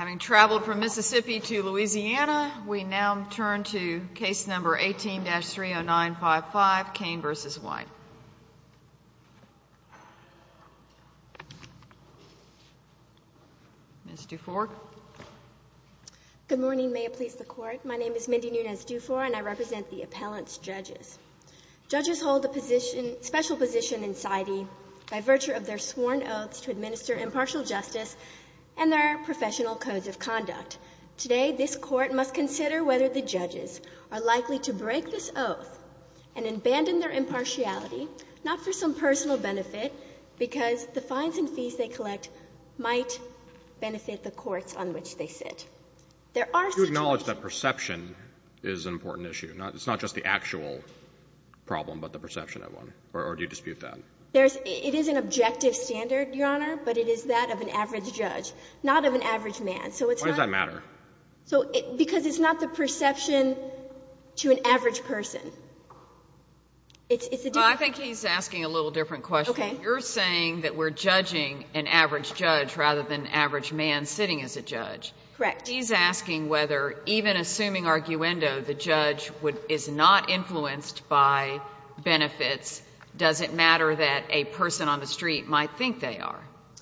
Having traveled from Mississippi to Louisiana, we now turn to case number 18-30955, Cain v. White. Ms. Dufour? Good morning. May it please the Court. My name is Mindy Nunez-Dufour, and I represent the appellant's judges. Judges hold a special position in CITE by virtue of their sworn oaths to administer impartial justice and their professional codes of conduct. Today, this Court must consider whether the judges are likely to break this oath and abandon their impartiality, not for some personal benefit, because the fines and fees they collect might benefit the courts on which they sit. There are such issues. You acknowledge that perception is an important issue, not — it's not just the actual problem, but the perception of one, or do you dispute that? It is an objective standard, Your Honor, but it is that of an average judge, not of an average man. So it's not — Why does that matter? So — because it's not the perception to an average person. It's a — Well, I think he's asking a little different question. Okay. You're saying that we're judging an average judge rather than an average man sitting as a judge. Correct. He's asking whether, even assuming arguendo, the judge would — is not influenced by benefits, does it matter that a person on the street might think they are?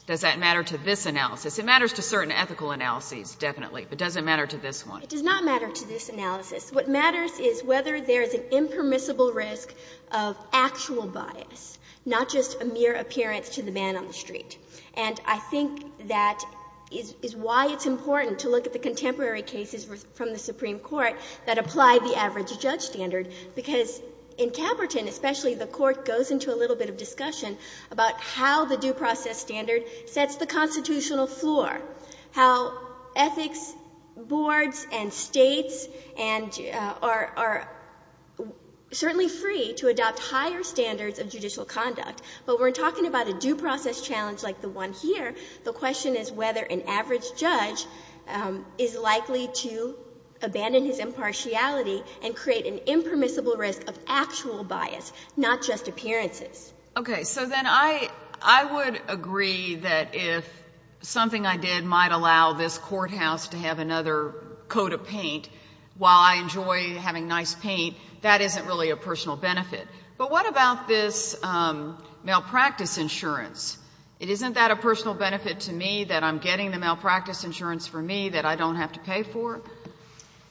Does that matter to this analysis? It matters to certain ethical analyses, definitely, but does it matter to this one? It does not matter to this analysis. What matters is whether there is an impermissible risk of actual bias, not just a mere appearance to the man on the street. And I think that is why it's important to look at the contemporary cases from the Supreme Court that apply the average judge standard, because in Caperton, especially, the Court goes into a little bit of discussion about how the due process standard sets the constitutional floor, how ethics boards and states and — are certainly free to adopt higher standards of judicial conduct, but we're talking about a due process challenge like the one here. The question is whether an average judge is likely to abandon his impartiality and create an impermissible risk of actual bias, not just appearances. Okay. So then I would agree that if something I did might allow this courthouse to have another coat of paint while I enjoy having nice paint, that isn't really a personal benefit. But what about this malpractice insurance? Isn't that a personal benefit to me, that I'm getting the malpractice insurance for me that I don't have to pay for?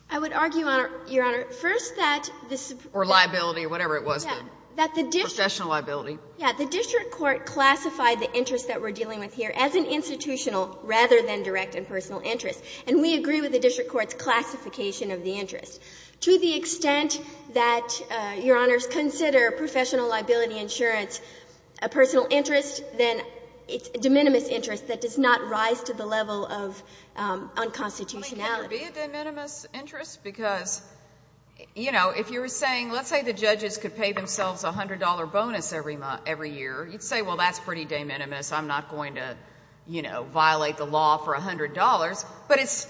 I would argue, Your Honor, first that this — Or liability, whatever it was, then. Yeah. That the district — Professional liability. Yeah. The district court classified the interest that we're dealing with here as an institutional rather than direct and personal interest. And we agree with the district court's classification of the interest. To the extent that, Your Honors, consider professional liability insurance a personal interest, then it's a de minimis interest that does not rise to the level of unconstitutionality. Can there be a de minimis interest? Because, you know, if you were saying, let's say the judges could pay themselves a $100 bonus every year, you'd say, well, that's pretty de minimis. I'm not going to, you know, violate the law for $100, but it's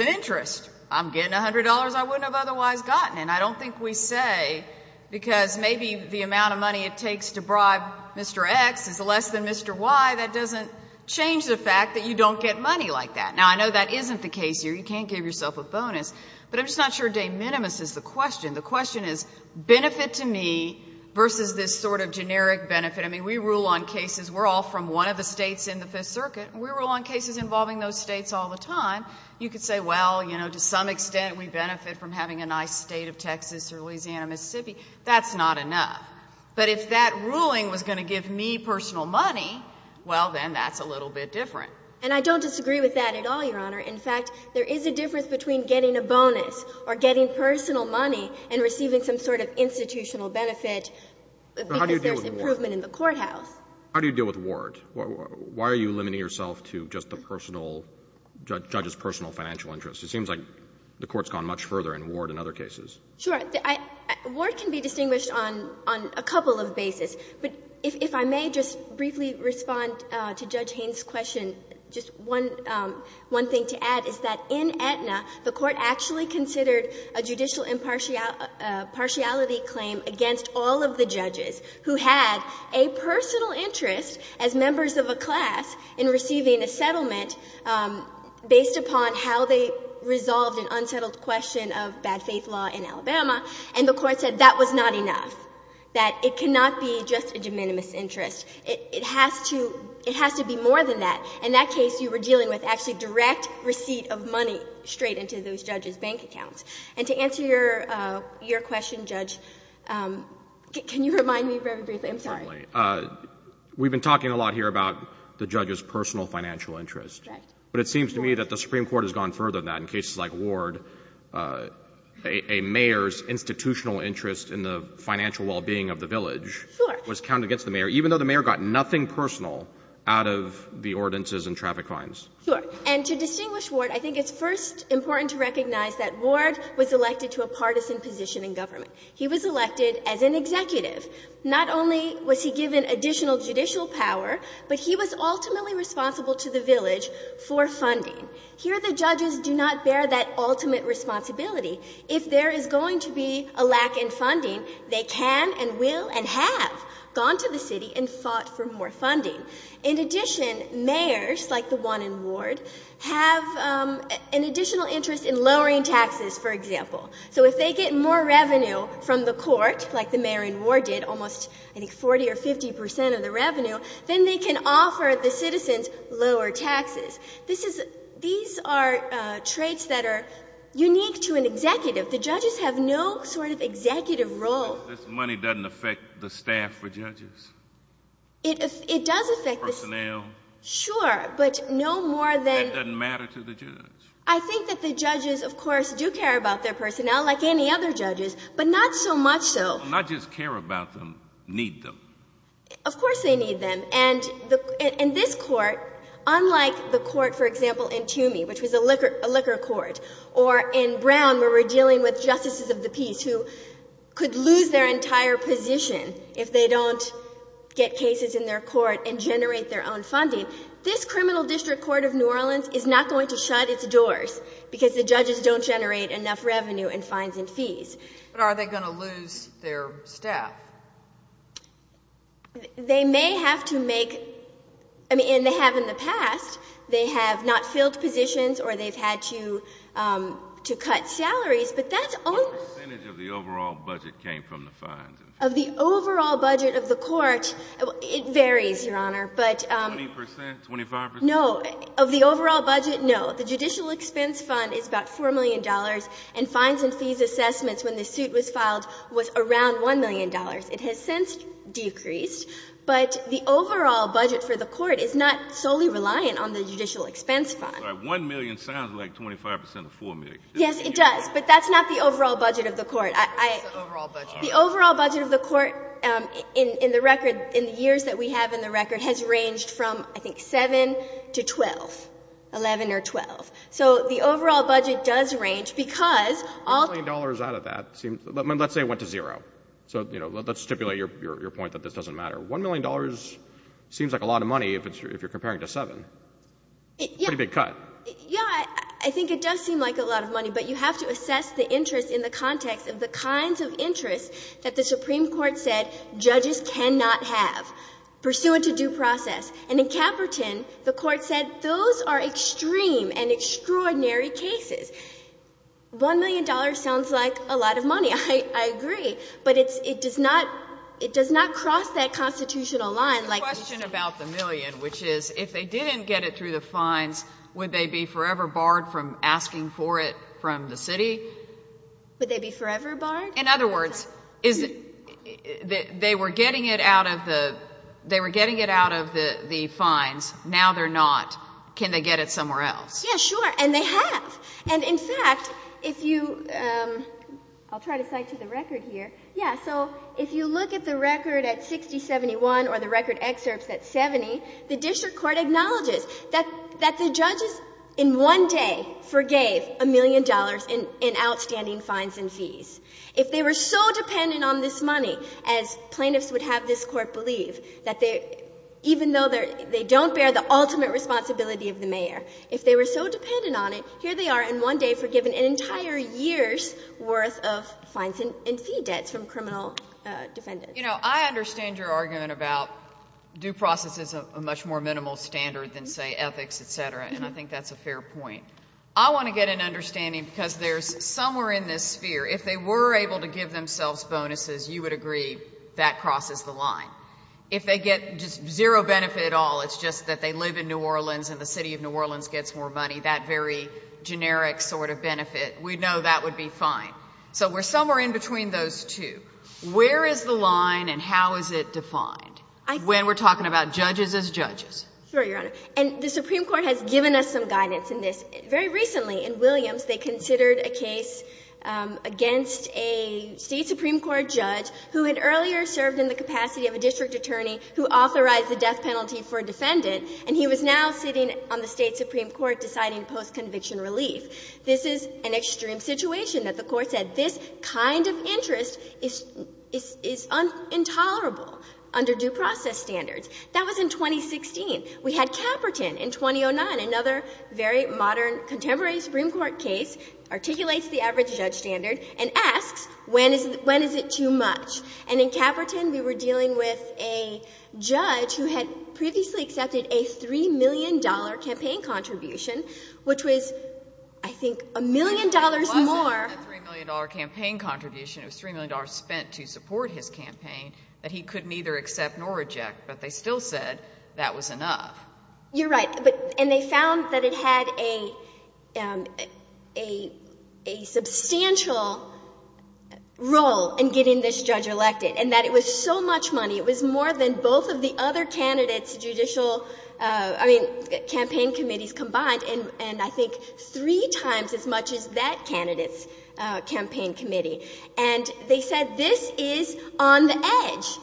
an interest. I'm getting $100 I wouldn't have otherwise gotten. And I don't think we say, because maybe the amount of money it takes to bribe Mr. X is less than Mr. Y, that doesn't change the fact that you don't get money like that. Now, I know that isn't the case here. You can't give yourself a bonus. But I'm just not sure de minimis is the question. The question is, benefit to me versus this sort of generic benefit. I mean, we rule on cases — we're all from one of the states in the Fifth Circuit. We rule on cases involving those states all the time. You could say, well, you know, to some extent we benefit from having a nice state of Texas or Louisiana, Mississippi. That's not enough. But if that ruling was going to give me personal money, well, then that's a little bit different. And I don't disagree with that at all, Your Honor. In fact, there is a difference between getting a bonus or getting personal money and receiving some sort of institutional benefit because there's improvement in the courthouse. How do you deal with warrants? Why are you limiting yourself to just the personal — judge's personal financial interest? It seems like the Court's gone much further in Ward and other cases. Sure. Ward can be distinguished on a couple of bases. But if I may just briefly respond to Judge Haynes' question, just one thing to add is that in Aetna, the Court actually considered a judicial impartiality claim against all of the judges who had a personal interest as members of a class in receiving a settlement based upon how they resolved an unsettled question of bad faith law in Alabama, and the Court said that was not enough, that it cannot be just a de minimis interest. It has to — it has to be more than that. In that case, you were dealing with actually direct receipt of money straight into those judges' bank accounts. And to answer your question, Judge, can you remind me very briefly — I'm sorry. We've been talking a lot here about the judge's personal financial interest. Right. But it seems to me that the Supreme Court has gone further than that in cases like Ward. A mayor's institutional interest in the financial well-being of the village was counted against the mayor, even though the mayor got nothing personal out of the ordinances and traffic fines. Sure. And to distinguish Ward, I think it's first important to recognize that Ward was elected to a partisan position in government. He was elected as an executive. Not only was he given additional judicial power, but he was ultimately responsible to the village for funding. Here the judges do not bear that ultimate responsibility. If there is going to be a lack in funding, they can and will and have gone to the city and fought for more funding. In addition, mayors like the one in Ward have an additional interest in lowering taxes, for example. So if they get more revenue from the court, like the mayor in Ward did, almost, I think, 40 or 50 percent of the revenue, then they can offer the citizens lower taxes. This is — these are traits that are unique to an executive. The judges have no sort of executive role. But this money doesn't affect the staff for judges? It does affect the — Personnel? Sure. But no more than — That doesn't matter to the judge? I think that the judges, of course, do care about their personnel, like any other judges, but not so much so — Not just care about them, need them. Of course they need them. And in this court, unlike the court, for example, in Toomey, which was a liquor court, or in Brown, where we're dealing with justices of the peace who could lose their entire position if they don't get cases in their court and generate their own funding, this criminal district court of New Orleans is not going to shut its doors because the judges don't generate enough revenue and fines and fees. But are they going to lose their staff? They may have to make — I mean, and they have in the past. They have not filled positions or they've had to cut salaries, but that's — What percentage of the overall budget came from the fines? Of the overall budget of the court, it varies, Your Honor, but — 20 percent? 25 percent? No. Of the overall budget, no. The judicial expense fund is about $4 million, and fines and fees assessments when the suit was filed was around $1 million. It has since decreased. But the overall budget for the court is not solely reliant on the judicial expense fund. All right. One million sounds like 25 percent of 4 million. Yes, it does. But that's not the overall budget of the court. The overall budget of the court in the record — in the years that we have in the record has ranged from, I think, 7 to 12, 11 or 12. So the overall budget does range because all — One million dollars out of that seems — let's say it went to zero. So let's stipulate your point that this doesn't matter. One million dollars seems like a lot of money if you're comparing it to 7. Yeah. Pretty big cut. Yeah. I think it does seem like a lot of money, but you have to assess the interest in the context of the kinds of interests that the Supreme Court said judges cannot have pursuant to due process. And in Caperton, the court said those are extreme and extraordinary cases. One million dollars sounds like a lot of money. I agree. But it's — it does not — it does not cross that constitutional line like — Would they be forever barred from asking for it from the city? Would they be forever barred? In other words, is it — they were getting it out of the — they were getting it out of the fines. Now they're not. Can they get it somewhere else? Yeah, sure. And they have. And, in fact, if you — I'll try to cite to the record here. Yeah. So if you look at the record at 6071 or the record excerpts at 70, the district court acknowledges that the judges in one day forgave a million dollars in outstanding fines and fees. If they were so dependent on this money, as plaintiffs would have this Court believe, that they — even though they don't bear the ultimate responsibility of the mayor, if they were so dependent on it, here they are in one day forgiven an entire year's worth of fines and fee debts from criminal defendants. You know, I understand your argument about due process is a much more minimal standard than, say, ethics, et cetera, and I think that's a fair point. I want to get an understanding, because there's — somewhere in this sphere, if they were able to give themselves bonuses, you would agree that crosses the line. If they get just zero benefit at all, it's just that they live in New Orleans and the city of New Orleans gets more money, that very generic sort of benefit, we know that would be fine. So we're somewhere in between those two. Where is the line and how is it defined when we're talking about judges as judges? Sure, Your Honor. And the Supreme Court has given us some guidance in this. Very recently, in Williams, they considered a case against a State supreme court judge who had earlier served in the capacity of a district attorney who authorized the death penalty for a defendant, and he was now sitting on the State supreme court deciding post-conviction relief. This is an extreme situation that the Court said this kind of interest is intolerable under due process standards. That was in 2016. We had Caperton in 2009, another very modern, contemporary supreme court case, articulates the average judge standard and asks, when is it too much? And in Caperton, we were dealing with a judge who had previously accepted a $3 million campaign contribution, which was, I think, a million dollars more. If it wasn't a $3 million campaign contribution, it was $3 million spent to support his campaign that he could neither accept nor reject, but they still said that was enough. You're right. And they found that it had a substantial role in getting this judge elected, and that it was so much money, it was more than both of the other candidates' judicial, I mean, campaign committees combined, and I think three times as much as that candidate's campaign committee. And they said this is on the edge,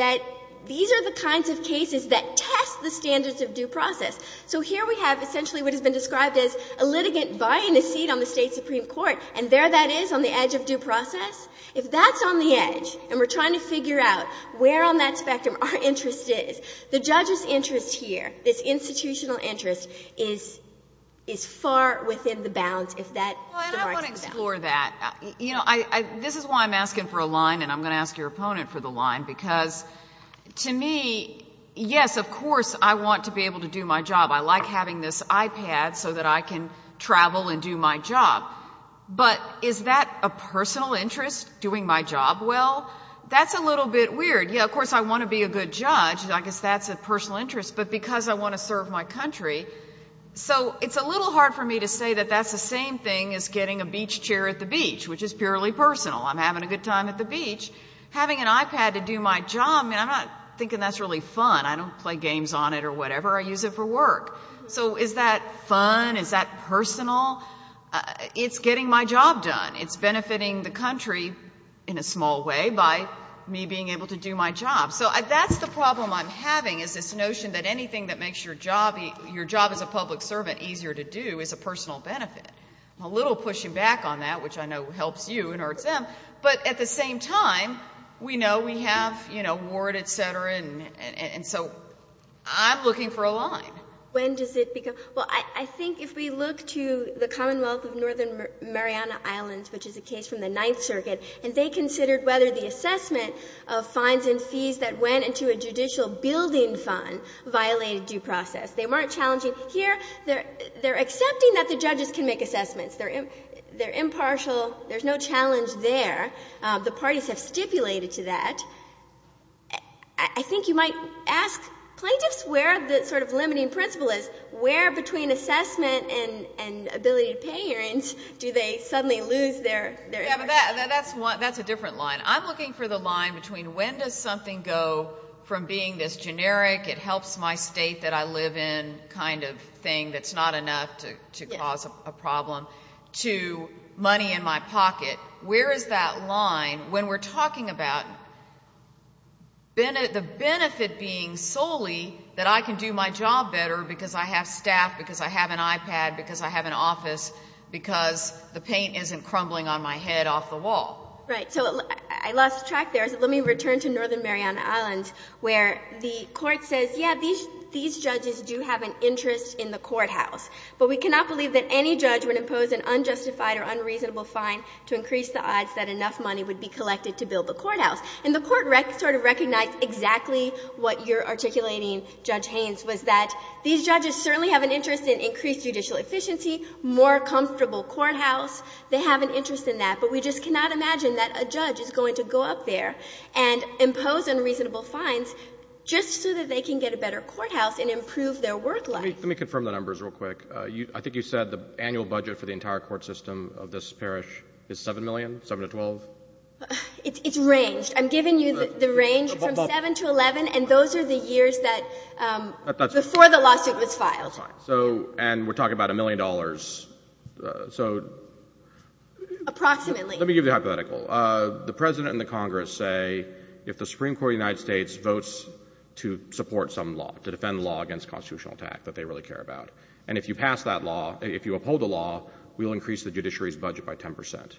that these are the kinds of cases that test the standards of due process. So here we have essentially what has been described as a litigant buying a seat on the State supreme court, and there that is on the edge of due process. If that's on the edge, and we're trying to figure out where on that spectrum our interest is, the judge's interest here, this institutional interest, is far within the bounds if that divides it down. Well, and I want to explore that. You know, this is why I'm asking for a line, and I'm going to ask your opponent for the line, because to me, yes, of course I want to be able to do my job. I like having this iPad so that I can travel and do my job. But is that a personal interest, doing my job well? That's a little bit weird. Yeah, of course I want to be a good judge. I guess that's a personal interest. But because I want to serve my country. So it's a little hard for me to say that that's the same thing as getting a beach chair at the beach, which is purely personal. I'm having a good time at the beach. Having an iPad to do my job, I'm not thinking that's really fun. I don't play games on it or whatever. I use it for work. So is that fun? Is that personal? It's getting my job done. It's benefiting the country in a small way by me being able to do my job. So that's the problem I'm having, is this notion that anything that makes your job as a public servant easier to do is a personal benefit. I'm a little pushing back on that, which I know helps you and hurts them. But at the same time, we know we have ward, et cetera, and so I'm looking for a line. When does it become? Well, I think if we look to the Commonwealth of Northern Mariana Islands, which is a case from the Ninth Circuit, and they considered whether the assessment of fines and fees that went into a judicial building fund violated due process. They weren't challenging. Here, they're accepting that the judges can make assessments. They're impartial. There's no challenge there. The parties have stipulated to that. I think you might ask plaintiffs where the sort of limiting principle is, where between assessment and ability to pay hearings, do they suddenly lose their interest? Yeah, but that's a different line. I'm looking for the line between when does something go from being this generic, it helps my state that I live in kind of thing that's not enough to cause a problem, to money in my pocket. Where is that line when we're talking about the benefit being solely that I can do my job better because I have staff, because I have an iPad, because I have an office, because the paint isn't crumbling on my head off the wall? Right. So I lost track there. Let me return to Northern Mariana Islands, where the Court says, yeah, these judges do have an interest in the courthouse. But we cannot believe that any judge would impose an unjustified or unreasonable fine to increase the odds that enough money would be collected to build the courthouse. And the Court sort of recognized exactly what you're articulating, Judge Haynes, was that these judges certainly have an interest in increased judicial efficiency, more comfortable courthouse. They have an interest in that. But we just cannot imagine that a judge is going to go up there and impose unreasonable fines just so that they can get a better courthouse and improve their work life. Let me confirm the numbers real quick. I think you said the annual budget for the entire court system of this parish is $7 million, 7 to 12? It's ranged. I'm giving you the range from 7 to 11. And those are the years that before the lawsuit was filed. And we're talking about a million dollars. Approximately. Let me give you the hypothetical. The President and the Congress say if the Supreme Court of the United States votes to support some law, to defend the law against constitutional attack that they really care about, and if you pass that law, if you uphold the law, we'll increase the judiciary's budget by 10 percent.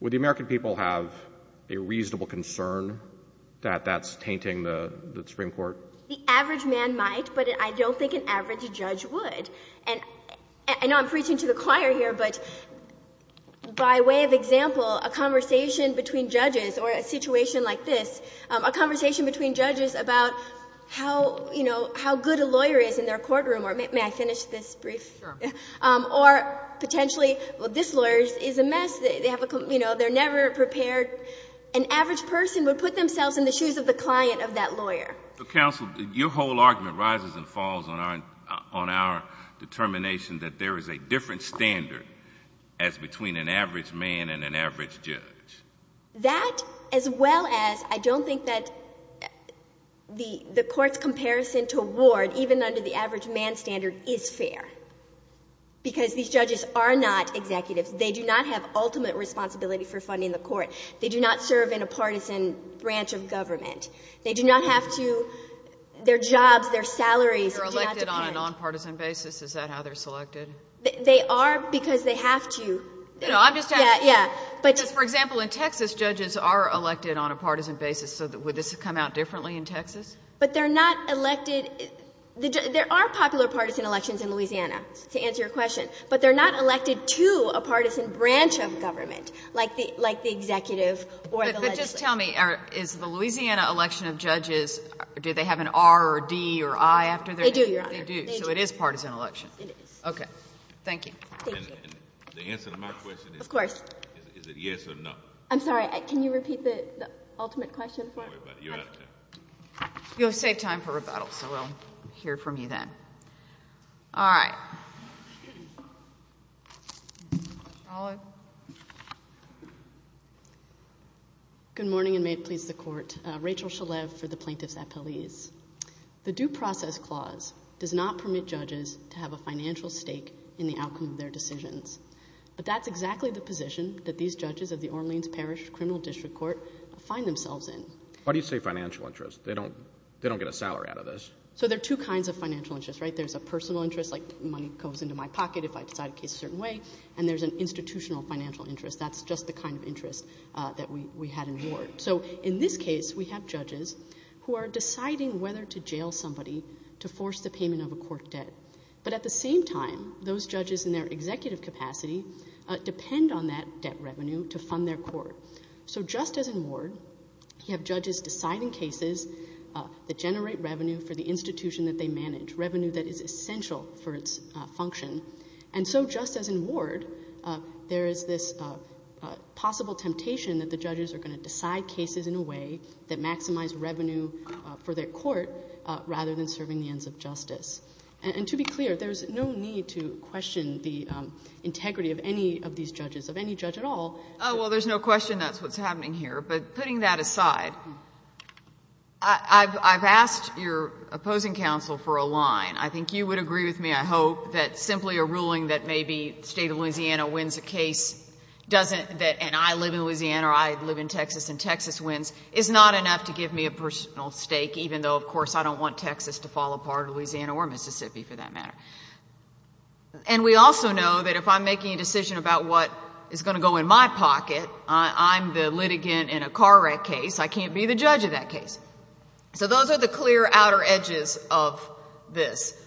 Would the American people have a reasonable concern that that's tainting the Supreme Court? The average man might, but I don't think an average judge would. And I know I'm preaching to the choir here, but by way of example, a conversation between judges or a situation like this, a conversation between judges about how, you know, how good a lawyer is in their courtroom, or may I finish this brief? Sure. Or potentially, well, this lawyer is a mess. They have a, you know, they're never prepared. An average person would put themselves in the shoes of the client of that lawyer. Counsel, your whole argument rises and falls on our determination that there is a different standard as between an average man and an average judge. That, as well as I don't think that the Court's comparison to Ward, even under the average man standard, is fair. Because these judges are not executives. They do not have ultimate responsibility for funding the Court. They do not serve in a partisan branch of government. They do not have to, their jobs, their salaries, do not depend. You're elected on a nonpartisan basis. Is that how they're selected? They are because they have to. No, I'm just asking. Yeah, yeah. Because, for example, in Texas, judges are elected on a partisan basis. So would this come out differently in Texas? But they're not elected. There are popular partisan elections in Louisiana, to answer your question. But they're not elected to a partisan branch of government, like the executive or the legislature. But just tell me, is the Louisiana election of judges, do they have an R or a D or I after their name? They do, Your Honor. They do. So it is a partisan election. It is. Okay. Thank you. Thank you. And the answer to my question is, is it yes or no? I'm sorry. Can you repeat the ultimate question for me? You're out of time. You'll have saved time for rebuttal. So we'll hear from you then. All right. Good morning, and may it please the Court. Rachel Shalev for the Plaintiff's Appellees. The Due Process Clause does not permit judges to have a financial stake in the outcome of their decisions. But that's exactly the position that these judges of the Orleans Parish Criminal District Court find themselves in. Why do you say financial interest? They don't get a salary out of this. So there are two kinds of financial interests, right? There's a personal interest, like money goes into my pocket if I decide a case a certain way, and there's an institutional financial interest. That's just the kind of interest that we had in Ward. So in this case, we have judges who are deciding whether to jail somebody to force the payment of a court debt. But at the same time, those judges in their executive capacity depend on that debt revenue to fund their court. So just as in Ward, you have judges deciding cases that generate revenue for the institution that they manage, revenue that is essential for its function. And so just as in Ward, there is this possible temptation that the judges are going to decide cases in a way that maximize revenue for their court rather than serving the ends of justice. And to be clear, there's no need to question the integrity of any of these judges, of any judge at all. Oh, well, there's no question that's what's happening here. But putting that aside, I've asked your opposing counsel for a line. I think you would agree with me, I hope, that simply a ruling that maybe the state of Louisiana wins a case and I live in Louisiana or I live in Texas and Texas wins is not enough to give me a personal stake, even though, of course, I don't want Texas to fall apart or Louisiana or Mississippi, for that matter. And we also know that if I'm making a decision about what is going to go in my pocket, I'm the litigant in a car wreck case, I can't be the judge of that case. So those are the clear outer edges of this.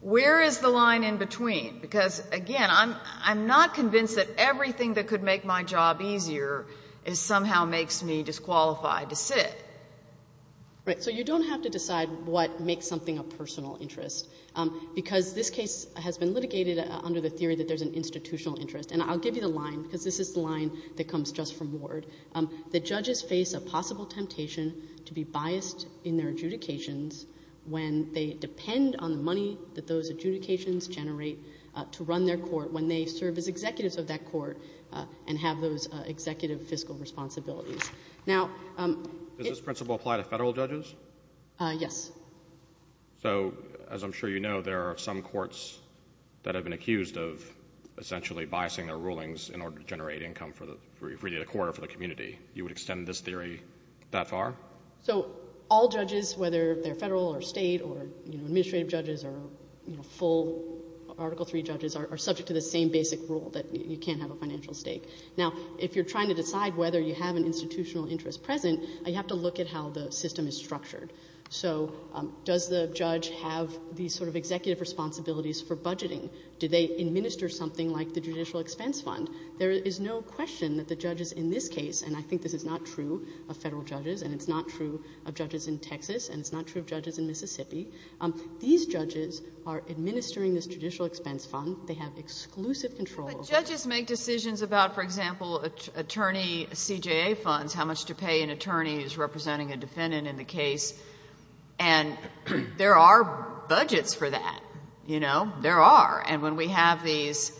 Where is the line in between? Because, again, I'm not convinced that everything that could make my job easier somehow makes me disqualified to sit. Right, so you don't have to decide what makes something a personal interest, because this case has been litigated under the theory that there's an institutional interest. And I'll give you the line, because this is the line that comes just from Ward. The judges face a possible temptation to be biased in their adjudications when they depend on the money that those adjudications generate to run their court, when they serve as executives of that court and have those executive fiscal responsibilities. Now— Does this principle apply to federal judges? Yes. So, as I'm sure you know, there are some courts that have been accused of essentially biasing their rulings in order to generate income for the—for the court or for the community. You would extend this theory that far? So all judges, whether they're federal or state or, you know, administrative judges or, you know, full Article III judges, are subject to the same basic rule that you can't have a financial stake. Now, if you're trying to decide whether you have an institutional interest present, you have to look at how the system is structured. So does the judge have these sort of executive responsibilities for budgeting? Do they administer something like the judicial expense fund? There is no question that the judges in this case, and I think this is not true of federal judges and it's not true of judges in Texas and it's not true of judges in Mississippi, these judges are administering this judicial expense fund. They have exclusive control over it. But judges make decisions about, for example, attorney CJA funds, how much to pay an attorney who's representing a defendant in the case, and there are budgets for that, you know? There are. And when we have these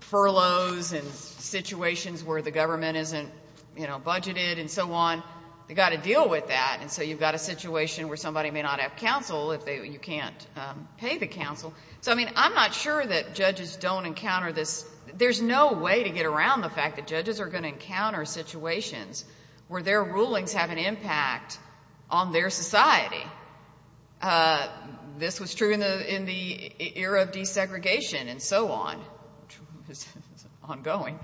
furloughs and situations where the government isn't, you know, budgeted and so on, they've got to deal with that. And so you've got a situation where somebody may not have counsel if you can't pay the counsel. So, I mean, I'm not sure that judges don't encounter this. There's no way to get around the fact that judges are going to encounter situations where their rulings have an impact on their society. This was true in the era of desegregation and so on, which is ongoing.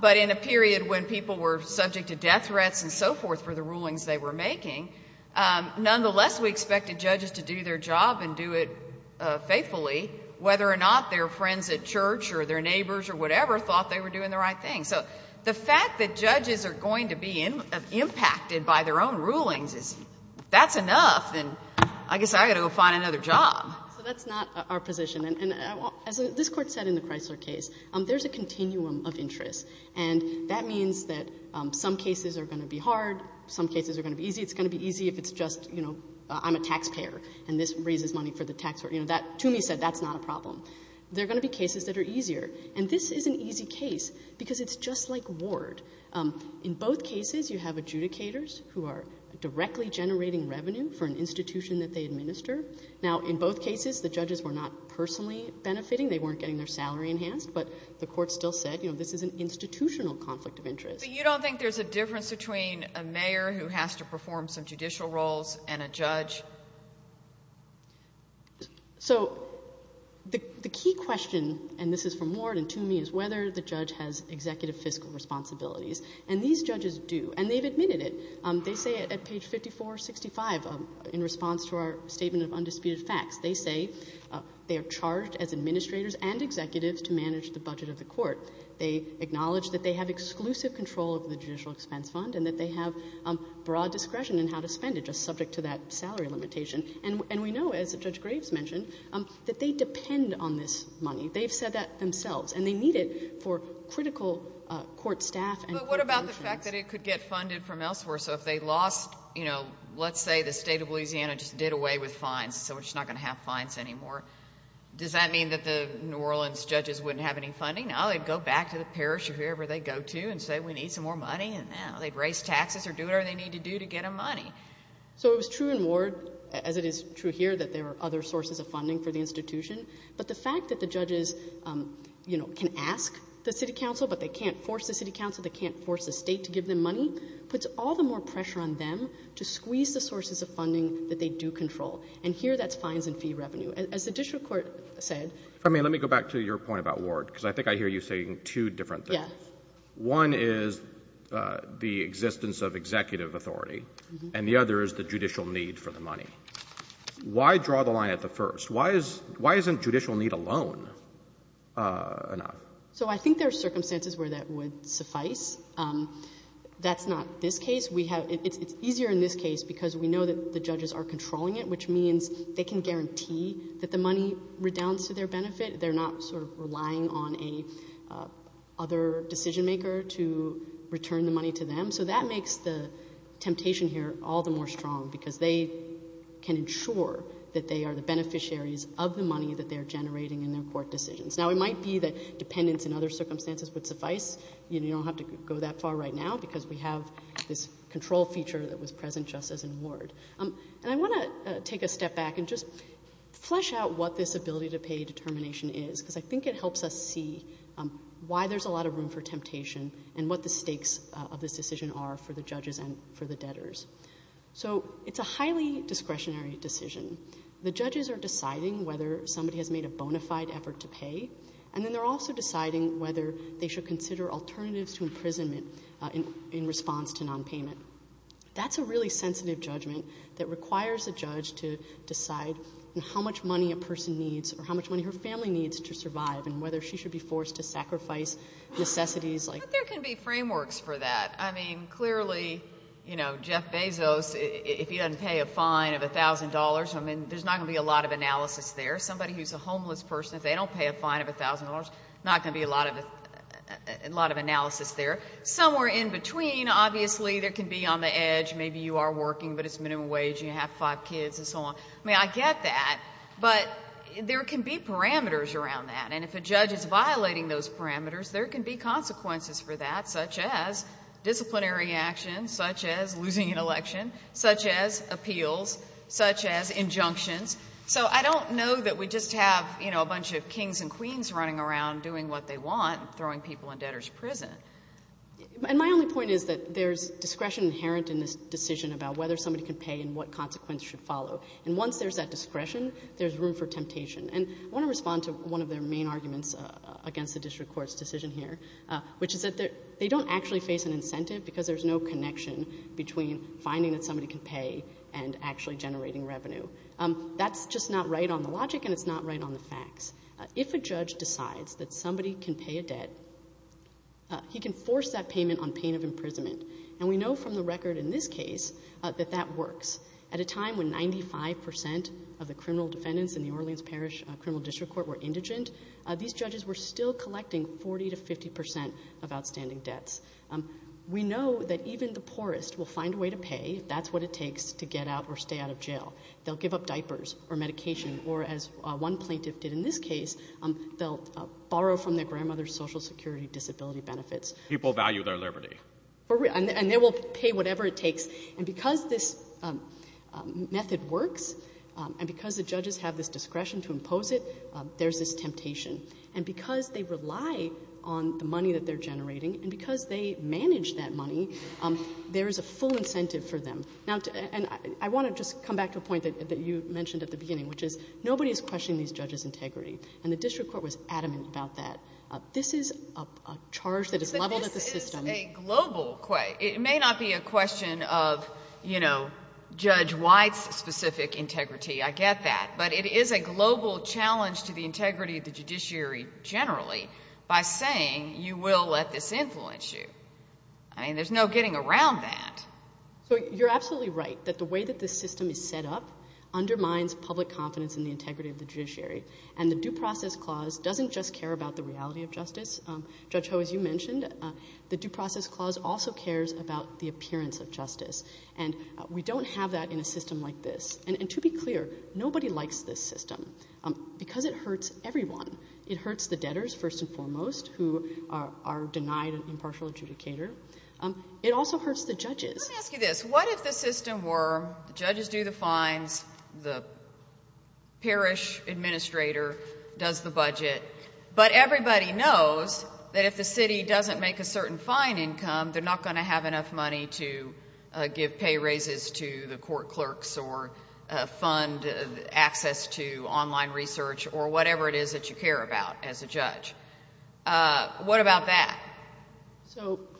But in a period when people were subject to death threats and so forth for the rulings they were making, nonetheless, we expected judges to do their job and do it faithfully, whether or not their friends at church or their neighbors or whatever thought they were doing the right thing. So the fact that judges are going to be impacted by their own rulings, that's enough. And I guess I've got to go find another job. So that's not our position. And as this Court said in the Chrysler case, there's a continuum of interest. And that means that some cases are going to be hard, some cases are going to be easy. It's going to be easy if it's just, you know, I'm a taxpayer and this raises money for the taxpayer. You know, Toomey said that's not a problem. There are going to be cases that are easier. And this is an easy case because it's just like ward. In both cases, you have adjudicators who are directly generating revenue for an institution that they administer. Now, in both cases, the judges were not personally benefiting. They weren't getting their salary enhanced. But the Court still said, you know, this is an institutional conflict of interest. But you don't think there's a difference between a mayor who has to perform some judicial roles and a judge? So the key question, and this is from ward and Toomey, is whether the judge has And these judges do. And they've admitted it. They say it at page 5465 in response to our statement of undisputed facts. They say they are charged as administrators and executives to manage the budget of the Court. They acknowledge that they have exclusive control of the judicial expense fund and that they have broad discretion in how to spend it, just subject to that salary limitation. And we know, as Judge Graves mentioned, that they depend on this money. They've said that themselves. And they need it for critical court staff. But what about the fact that it could get funded from elsewhere? So if they lost, you know, let's say the state of Louisiana just did away with fines, so it's not going to have fines anymore. Does that mean that the New Orleans judges wouldn't have any funding? No, they'd go back to the parish or wherever they go to and say, we need some more money. And now they'd raise taxes or do whatever they need to do to get a money. So it was true in Ward, as it is true here, that there were other sources of funding for the institution. But the fact that the judges, you know, can ask the city council, but they can't force the city council, they can't force the state to give them money, puts all the more pressure on them to squeeze the sources of funding that they do control. And here, that's fines and fee revenue. As the district court said... If I may, let me go back to your point about Ward, because I think I hear you saying two different things. Yeah. One is the existence of executive authority. And the other is the judicial need for the money. Why draw the line at the first? Why isn't judicial need alone enough? So I think there are circumstances where that would suffice. That's not this case. It's easier in this case because we know that the judges are controlling it, which means they can guarantee that the money redounds to their benefit. They're not sort of relying on a other decision maker to return the money to them. So that makes the temptation here all the more strong because they can ensure that they are the beneficiaries of the money that they're generating in their court decisions. Now, it might be that dependence in other circumstances would suffice. You don't have to go that far right now because we have this control feature that was present just as in Ward. And I want to take a step back and just flesh out what this ability to pay determination is, because I think it helps us see why there's a lot of room for temptation and what the stakes of this decision are for the judges and for the debtors. So it's a highly discretionary decision. The judges are deciding whether somebody has made a bona fide effort to pay, and then they're also deciding whether they should consider alternatives to imprisonment in response to nonpayment. That's a really sensitive judgment that requires a judge to decide how much money a person needs or how much money her family needs to survive and whether she should be forced to sacrifice necessities like... But there can be frameworks for that. I mean, clearly, you know, Jeff Bezos, if he doesn't pay a fine of a thousand dollars, I mean, there's not going to be a lot of analysis there. Somebody who's a homeless person, if they don't pay a fine of a thousand dollars, not going to be a lot of analysis there. Somewhere in between, obviously, there can be on the edge, maybe you are working, but it's minimum wage, you have five kids and so on. I mean, I get that, but there can be parameters around that. And if a judge is violating those parameters, there can be consequences for that, such as disciplinary action, such as losing an election, such as appeals, such as injunctions. So I don't know that we just have, you know, a bunch of kings and queens running around doing what they want, throwing people in debtors' prison. And my only point is that there's discretion inherent in this decision about whether somebody can pay and what consequence should follow. And once there's that discretion, there's room for temptation. And I want to respond to one of their main arguments against the district court's decision here, which is that they don't actually face an incentive because there's no connection between finding that somebody can pay and actually generating revenue. That's just not right on the logic and it's not right on the facts. If a judge decides that somebody can pay a debt, he can force that payment on pain of imprisonment. And we know from the record in this case that that works. At a time when 95% of the criminal defendants in the Orleans Parish Criminal District Court were indigent, these judges were still collecting 40 to 50% of outstanding debts. We know that even the poorest will find a way to pay if that's what it takes to get out or stay out of jail. They'll give up diapers or medication or, as one plaintiff did in this case, they'll borrow from their grandmother's Social Security disability benefits. People value their liberty. And they will pay whatever it takes. And because this method works and because the judges have this discretion to impose it, there's this temptation. And because they rely on the money that they're generating and because they manage that money, there is a full incentive for them. Now, and I want to just come back to a point that you mentioned at the beginning, which is nobody is questioning these judges' integrity. And the district court was adamant about that. This is a charge that is leveled at the system. But this is a global question. It may not be a question of, you know, Judge White's specific integrity. I get that. But it is a global challenge to the integrity of the judiciary generally by saying, you will let this influence you. I mean, there's no getting around that. So you're absolutely right that the way that this system is set up undermines public confidence in the integrity of the judiciary. And the Due Process Clause doesn't just care about the reality of justice. Judge Ho, as you mentioned, the Due Process Clause also cares about the appearance of justice. And we don't have that in a system like this. And to be clear, nobody likes this system because it hurts everyone. It hurts the debtors, first and foremost, who are denied an impartial adjudicator. It also hurts the judges. Let me ask you this. What if the system were the judges do the fines, the parish administrator does the budget, but everybody knows that if the city doesn't make a certain fine income, they're not going to have enough money to give pay raises to the court clerks or fund access to online research or whatever it is that you care about as a judge? What about that?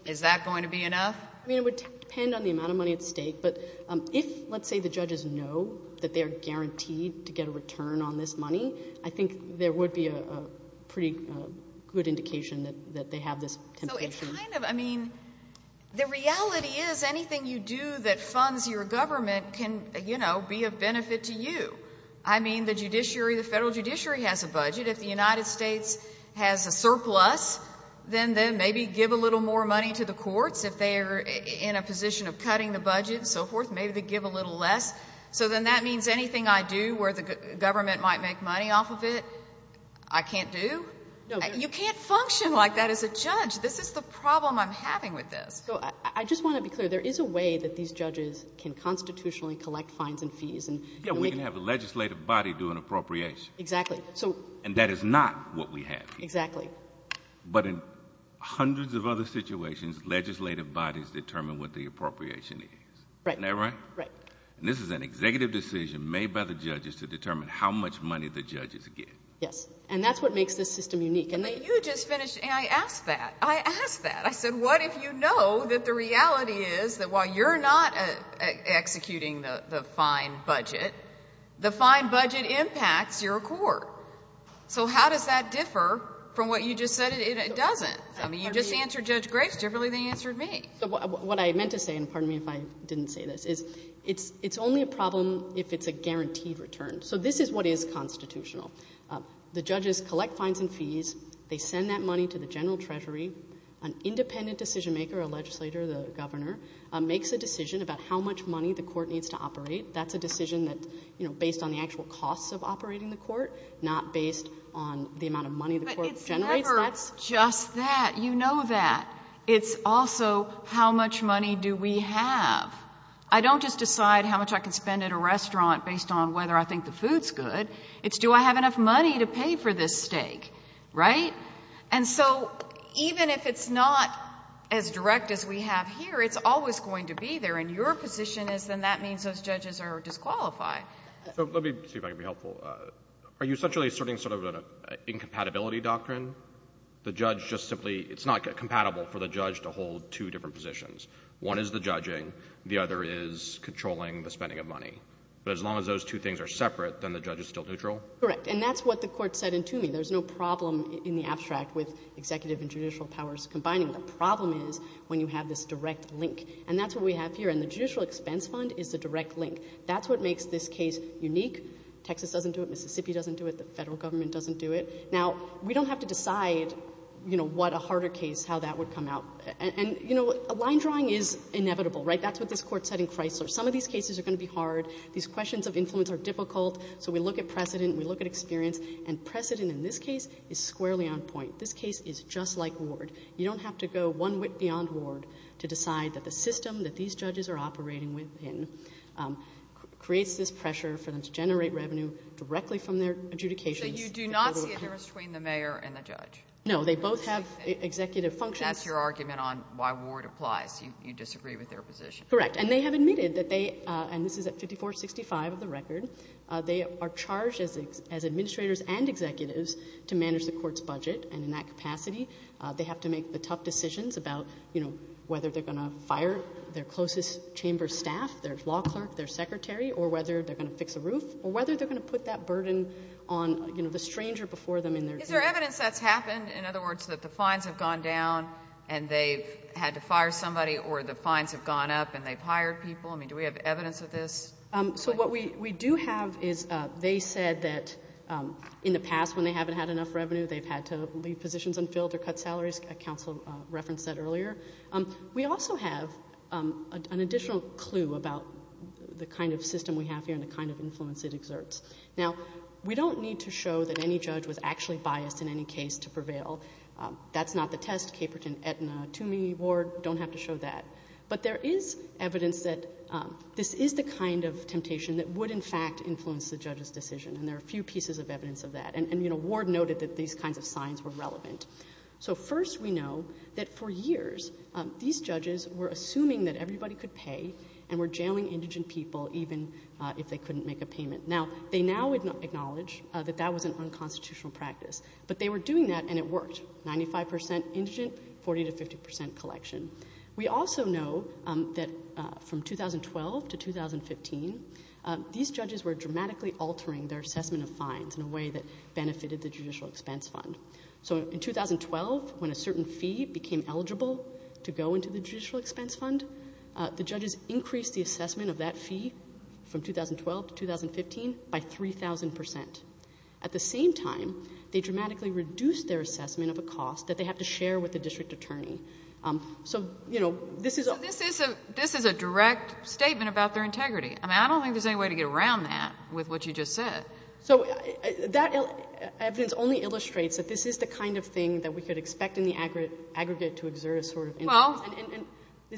Is that going to be enough? I mean, it would depend on the amount of money at stake. But if, let's say, the judges know that they're guaranteed to get a return on this money, I think there would be a pretty good indication that they have this So it's kind of, I mean, the reality is anything you do that funds your government can, you know, be of benefit to you. I mean, the judiciary, the federal judiciary has a budget. If the United States has a surplus, then maybe give a little more money to the courts. If they're in a position of cutting the budget and so forth, maybe they give a little less. So then that means anything I do where the government might make money off of it, I can't do. You can't function like that as a judge. This is the problem I'm having with this. So I just want to be clear. There is a way that these judges can constitutionally collect fines and fees. Yeah, we can have a legislative body do an appropriation. Exactly. And that is not what we have here. Exactly. But in hundreds of other situations, legislative bodies determine what the appropriation is. Isn't that right? Right. And this is an executive decision made by the judges to determine how much money the judges get. Yes. And that's what makes this system unique. You just finished, and I asked that. I asked that. I said, what if you know that the reality is that while you're not executing the fine budget, the fine budget impacts your court? So how does that differ from what you just said? It doesn't. I mean, you just answered Judge Graves differently than you answered me. What I meant to say, and pardon me if I didn't say this, is it's only a problem if it's a guaranteed return. So this is what is constitutional. The judges collect fines and fees. They send that money to the general treasury. An independent decision maker, a legislator, the governor, makes a decision about how much money the court needs to operate. That's a decision that, you know, based on the actual costs of operating the court, not based on the amount of money the court generates. But it's never just that. You know that. It's also, how much money do we have? I don't just decide how much I can spend at a restaurant based on whether I think the food's good. It's do I have enough money to pay for this steak, right? And so even if it's not as direct as we have here, it's always going to be there. And your position is then that means those judges are disqualified. So let me see if I can be helpful. Are you essentially asserting sort of an incompatibility doctrine? The judge just simply, it's not compatible for the judge to hold two different positions. One is the judging. The other is controlling the spending of money. But as long as those two things are separate, then the judge is still neutral? Correct. And that's what the court said in Toomey. There's no problem in the abstract with executive and judicial powers combining. The problem is when you have this direct link. And that's what we have here. And the judicial expense fund is the direct link. That's what makes this case unique. Texas doesn't do it. Mississippi doesn't do it. The Federal Government doesn't do it. Now, we don't have to decide, you know, what a harder case, how that would come out. And, you know, a line drawing is inevitable, right? That's what this court said in Chrysler. Some of these cases are going to be hard. These questions of influence are difficult. So we look at precedent. We look at experience. And precedent in this case is squarely on point. This case is just like Ward. You don't have to go one wit beyond Ward to decide that the system that these judges are operating within creates this pressure for them to generate revenue directly from their adjudications. So you do not see a difference between the mayor and the judge? No. They both have executive functions. That's your argument on why Ward applies. You disagree with their position. Correct. And they have admitted that they, and this is at 5465 of the record, they are charged as administrators and executives to manage the court's budget. And in that capacity, they have to make the tough decisions about, you know, whether they're going to fire their closest chamber staff, their law clerk, their secretary, or whether they're going to fix a roof, or whether they're going to put that burden on, you know, the stranger before them in their case. Is there evidence that's happened? In other words, that the fines have gone down and they've had to fire somebody, or the fines have gone up and they've hired people? I mean, do we have evidence of this? So what we do have is they said that in the past, when they haven't had enough revenue, they've had to leave positions unfilled or cut salaries. Counsel referenced that earlier. We also have an additional clue about the kind of system we have here and the kind of influence it exerts. Now, we don't need to show that any judge was actually biased in any case to prevail. That's not the test. Caperton, Aetna, Toomey, Ward don't have to show that. But there is evidence that this is the kind of temptation that would in fact influence the judge's decision, and there are a few pieces of evidence of that. And, you know, Ward noted that these kinds of signs were relevant. So first we know that for years, these judges were assuming that everybody could pay and were jailing indigent people even if they couldn't make a payment. Now, they now acknowledge that that was an unconstitutional practice, but they were doing that and it worked. 95% indigent, 40 to 50% collection. We also know that from 2012 to 2015, these judges were dramatically altering their assessment of fines in a way that benefited the Judicial Expense Fund. So in 2012, when a certain fee became eligible to go into the Judicial Expense Fund, the judges increased the assessment of that fee from 2012 to 2015 by 3,000%. At the same time, they dramatically reduced their assessment of a cost that they have to share with the district attorney. So, you know, this is a... So this is a direct statement about their integrity. I mean, I don't think there's any way to get around that with what you just said. So that evidence only illustrates that this is the kind of thing that we could expect in the aggregate to exert a sort of influence. Well,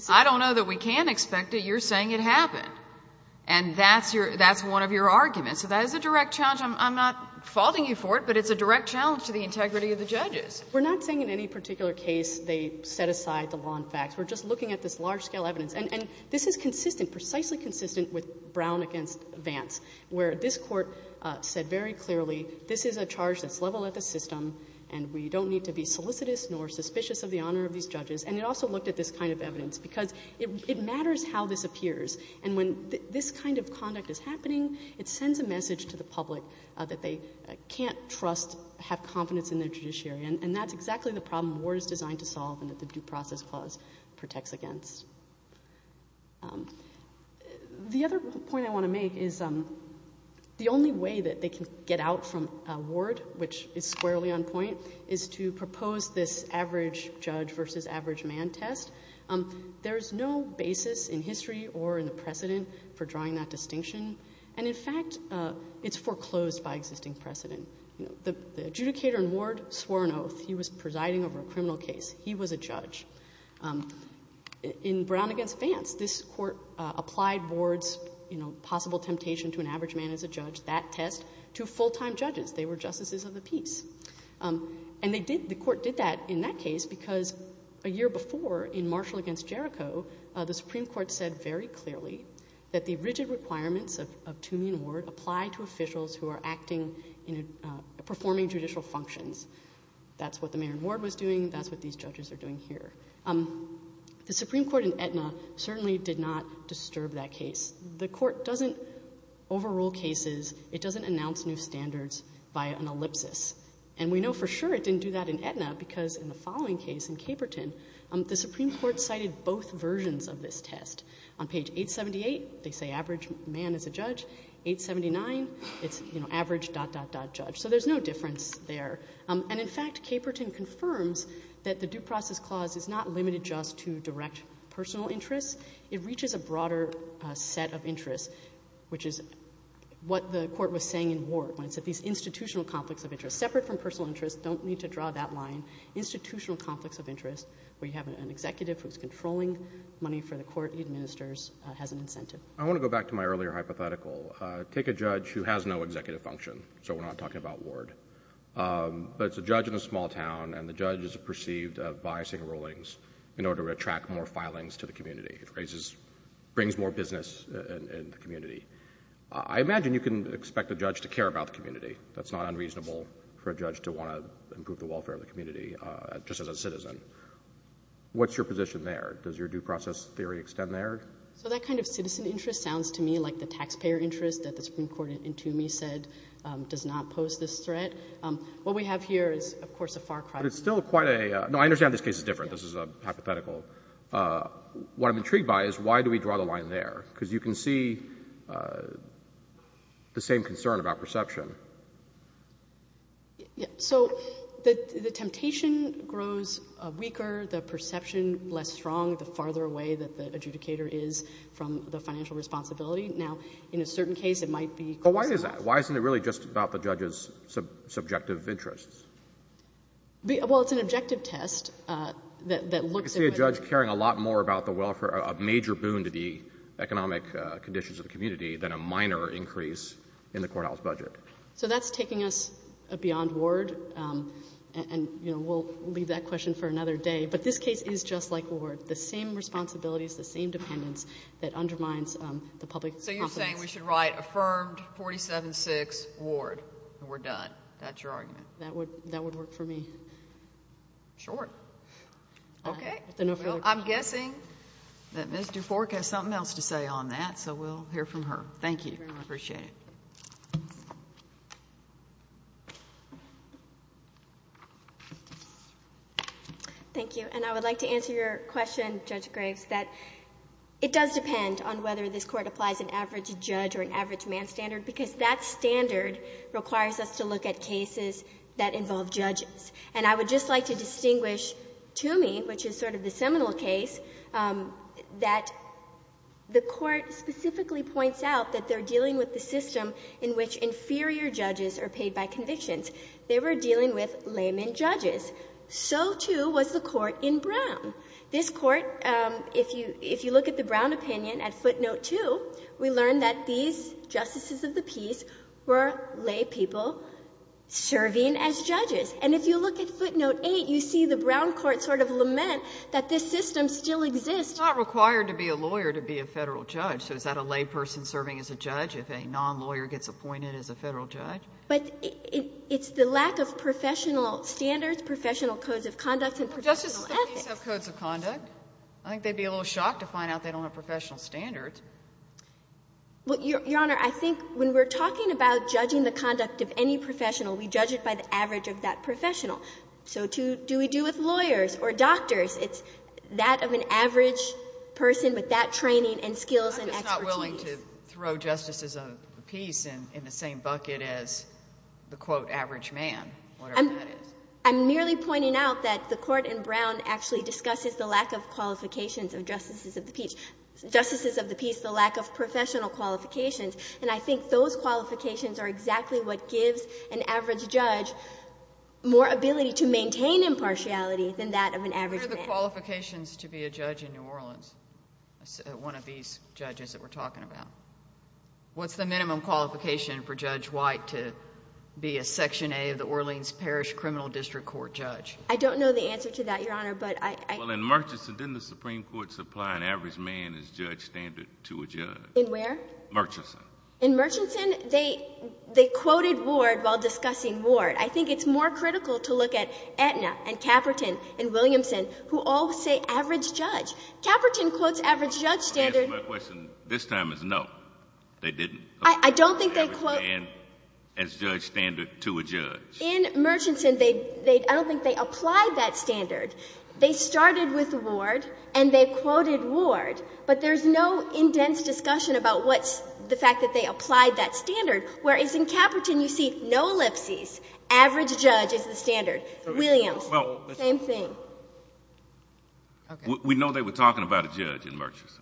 I don't know that we can expect it. You're saying it happened. And that's one of your arguments. So that is a direct challenge. I'm not faulting you for it, but it's a direct challenge to the integrity of the judges. We're not saying in any particular case they set aside the law and facts. We're just looking at this large-scale evidence. And this is consistent, precisely consistent, with Brown v. Vance, where this Court said very clearly, this is a charge that's leveled at the system, and we don't need to be solicitous nor suspicious of the honor of these judges. And it also looked at this kind of evidence, because it matters how this appears. And when this kind of conduct is happening, it sends a message to the public that they can't trust, have confidence in their judiciary. And that's exactly the problem Ward is designed to solve and that the Due Process Clause protects against. The other point I want to make is the only way that they can get out from Ward, which is squarely on point, is to propose this average judge versus average man test. There's no basis in history or in the precedent for drawing that distinction. And in fact, it's foreclosed by existing precedent. The adjudicator in Ward swore an oath. He was presiding over a criminal case. He was a judge. In Brown v. Vance, this Court applied Ward's possible temptation to an average man as a judge, that test, to full-time judges. They were justices of the peace. And they did, the Court did that in that case because a year before in Marshall v. Jericho, the Supreme Court said very clearly that the rigid requirements of Toomey and Ward apply to officials who are acting, performing judicial functions. That's what the mayor in Ward was doing. That's what these judges are doing here. The Supreme Court in Aetna certainly did not disturb that case. The Court doesn't overrule cases. It doesn't announce new standards by an ellipsis. And we know for sure it didn't do that in Aetna because in the following case in Caperton, the Supreme Court cited both versions of this test. On page 878, they say average man as a judge. 879, it's, you know, average dot, dot, dot, judge. So there's no difference there. And in fact, Caperton confirms that the due process clause is not limited just to direct personal interests. It reaches a broader set of interests, which is what the Court was saying in Ward when it said these institutional conflicts of interest, separate from personal interests, don't need to draw that line, institutional conflicts of interest, where you have an executive who's controlling money for the court he administers has an incentive. I want to go back to my earlier hypothetical. Take a judge who has no executive function. So we're not talking about Ward. But it's a judge in a small town and the judge is perceived of biasing rulings in order to attract more filings to the community. It raises, brings more business in the community. I imagine you can expect a judge to care about the community. That's not unreasonable for a judge to want to improve the welfare of the community just as a citizen. What's your position there? Does your due process theory extend there? So that kind of citizen interest sounds to me like the taxpayer interest that the Supreme Court in Toomey said does not pose this threat. What we have here is, of course, a far cry from that. But it's still quite a, no, I understand this case is different. This is a hypothetical. What I'm intrigued by is why do we draw the line there? Because you can see the same concern about perception. So the temptation grows weaker, the perception less strong, the farther away that the adjudicator is from the financial responsibility. Now, in a certain case, it might be. But why is that? Why isn't it really just about the judge's subjective interests? Well, it's an objective test that looks at whether— I can see a judge caring a lot more about the welfare, a major boon to the economic conditions of the community than a minor increase in the courthouse budget. So that's taking us beyond Ward. And, you know, we'll leave that question for another day. But this case is just like Ward. The same responsibilities, the same dependence that undermines the public confidence. So you're saying we should write affirmed 47-6, Ward, and we're done. That's your argument? That would work for me. Sure. Okay. I'm guessing that Ms. Dufork has something else to say on that. So we'll hear from her. Thank you. I appreciate it. Thank you. And I would like to answer your question, Judge Graves, that it does depend on whether this court applies an average judge or an average man standard because that standard requires us to look at cases that involve judges. And I would just like to distinguish, to me, which is sort of the seminal case, that the Court specifically points out that they're dealing with the system in which inferior judges are paid by convictions. They were dealing with layman judges. So, too, was the Court in Brown. This Court, if you look at the Brown opinion, at footnote 2, we learned that these justices of the peace were lay people serving as judges. And if you look at footnote 8, you see the Brown court sort of lament that this system still exists. It's not required to be a lawyer to be a Federal judge. So is that a lay person serving as a judge if a non-lawyer gets appointed as a Federal judge? But it's the lack of professional standards, professional codes of conduct, and professional ethics. Don't justices of the peace have codes of conduct? I think they'd be a little shocked to find out they don't have professional standards. Well, Your Honor, I think when we're talking about judging the conduct of any professional, we judge it by the average of that professional. So, too, do we do with lawyers or doctors? It's that of an average person with that training and skills and expertise. I'm just not willing to throw justices of the peace in the same bucket as the, quote, average man, whatever that is. I'm merely pointing out that the Court in Brown actually discusses the lack of qualifications of justices of the peace, justices of the peace, the lack of professional qualifications. And I think those qualifications are exactly what gives an average judge more ability to maintain impartiality than that of an average man. What are the qualifications to be a judge in New Orleans, one of these judges that we're talking about? What's the minimum qualification for Judge White to be a Section A of the Orleans Parish Criminal District Court judge? I don't know the answer to that, Your Honor, but I... Well, in Murchison, didn't the Supreme Court supply an average man as judge standard to a judge? In where? Murchison. In Murchison? They quoted Ward while discussing Ward. I think it's more critical to look at Aetna and Caperton and Williamson, who all say average judge. Caperton quotes average judge standard... I guess my question this time is, no, they didn't. I don't think they quote... Average man as judge standard to a judge. In Murchison, I don't think they applied that standard. They started with Ward and they quoted Ward, but there's no in-dense discussion about what's the fact that they applied that standard, whereas in Caperton, you see no ellipses. Average judge is the standard. For Williamson, same thing. We know they were talking about a judge in Murchison. Right?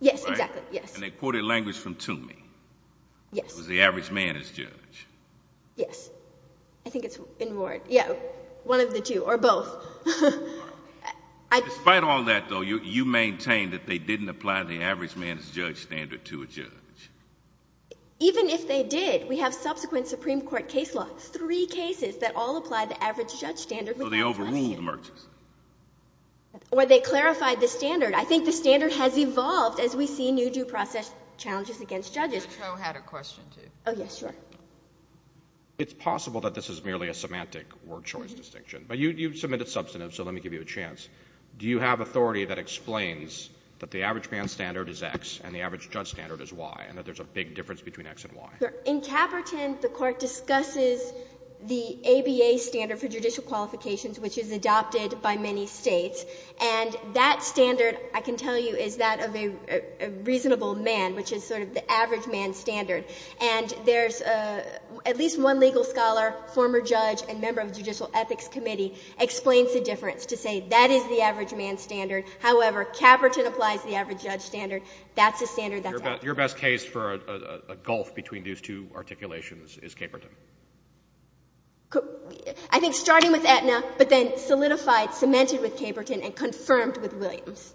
Yes, exactly. Yes. And they quoted language from Toomey. Yes. It was the average man as judge. Yes. I think it's in Ward. Yeah. One of the two, or both. Despite all that, though, you maintain that they didn't apply the average man as judge standard to a judge. Even if they did, we have subsequent Supreme Court case laws, three cases that all apply the average judge standard without question. Well, they overruled Murchison. Or they clarified the standard. I think the standard has evolved as we see new due process challenges against judges. Ms. Cho had a question, too. Oh, yes. Sure. It's possible that this is merely a semantic Ward-Choice distinction, but you submitted substantive, so let me give you a chance. Do you have authority that explains that the average man standard is X and the average judge standard is Y, and that there's a big difference between X and Y? Sure. In Caperton, the Court discusses the ABA standard for judicial qualifications, which is adopted by many States. And that standard, I can tell you, is that of a reasonable man, which is sort of the average man standard. And there's at least one legal scholar, former judge, and member of the Judicial Ethics Committee, explains the difference to say that is the average man standard. However, Caperton applies the average judge standard. That's a standard that's adopted. Your best case for a gulf between these two articulations is Caperton? I think starting with Aetna, but then solidified, cemented with Caperton, and confirmed with Williams.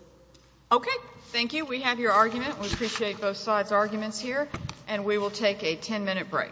Okay. Thank you. We have your argument. We appreciate both sides' arguments here. And we will take a 10-minute break. Thank you.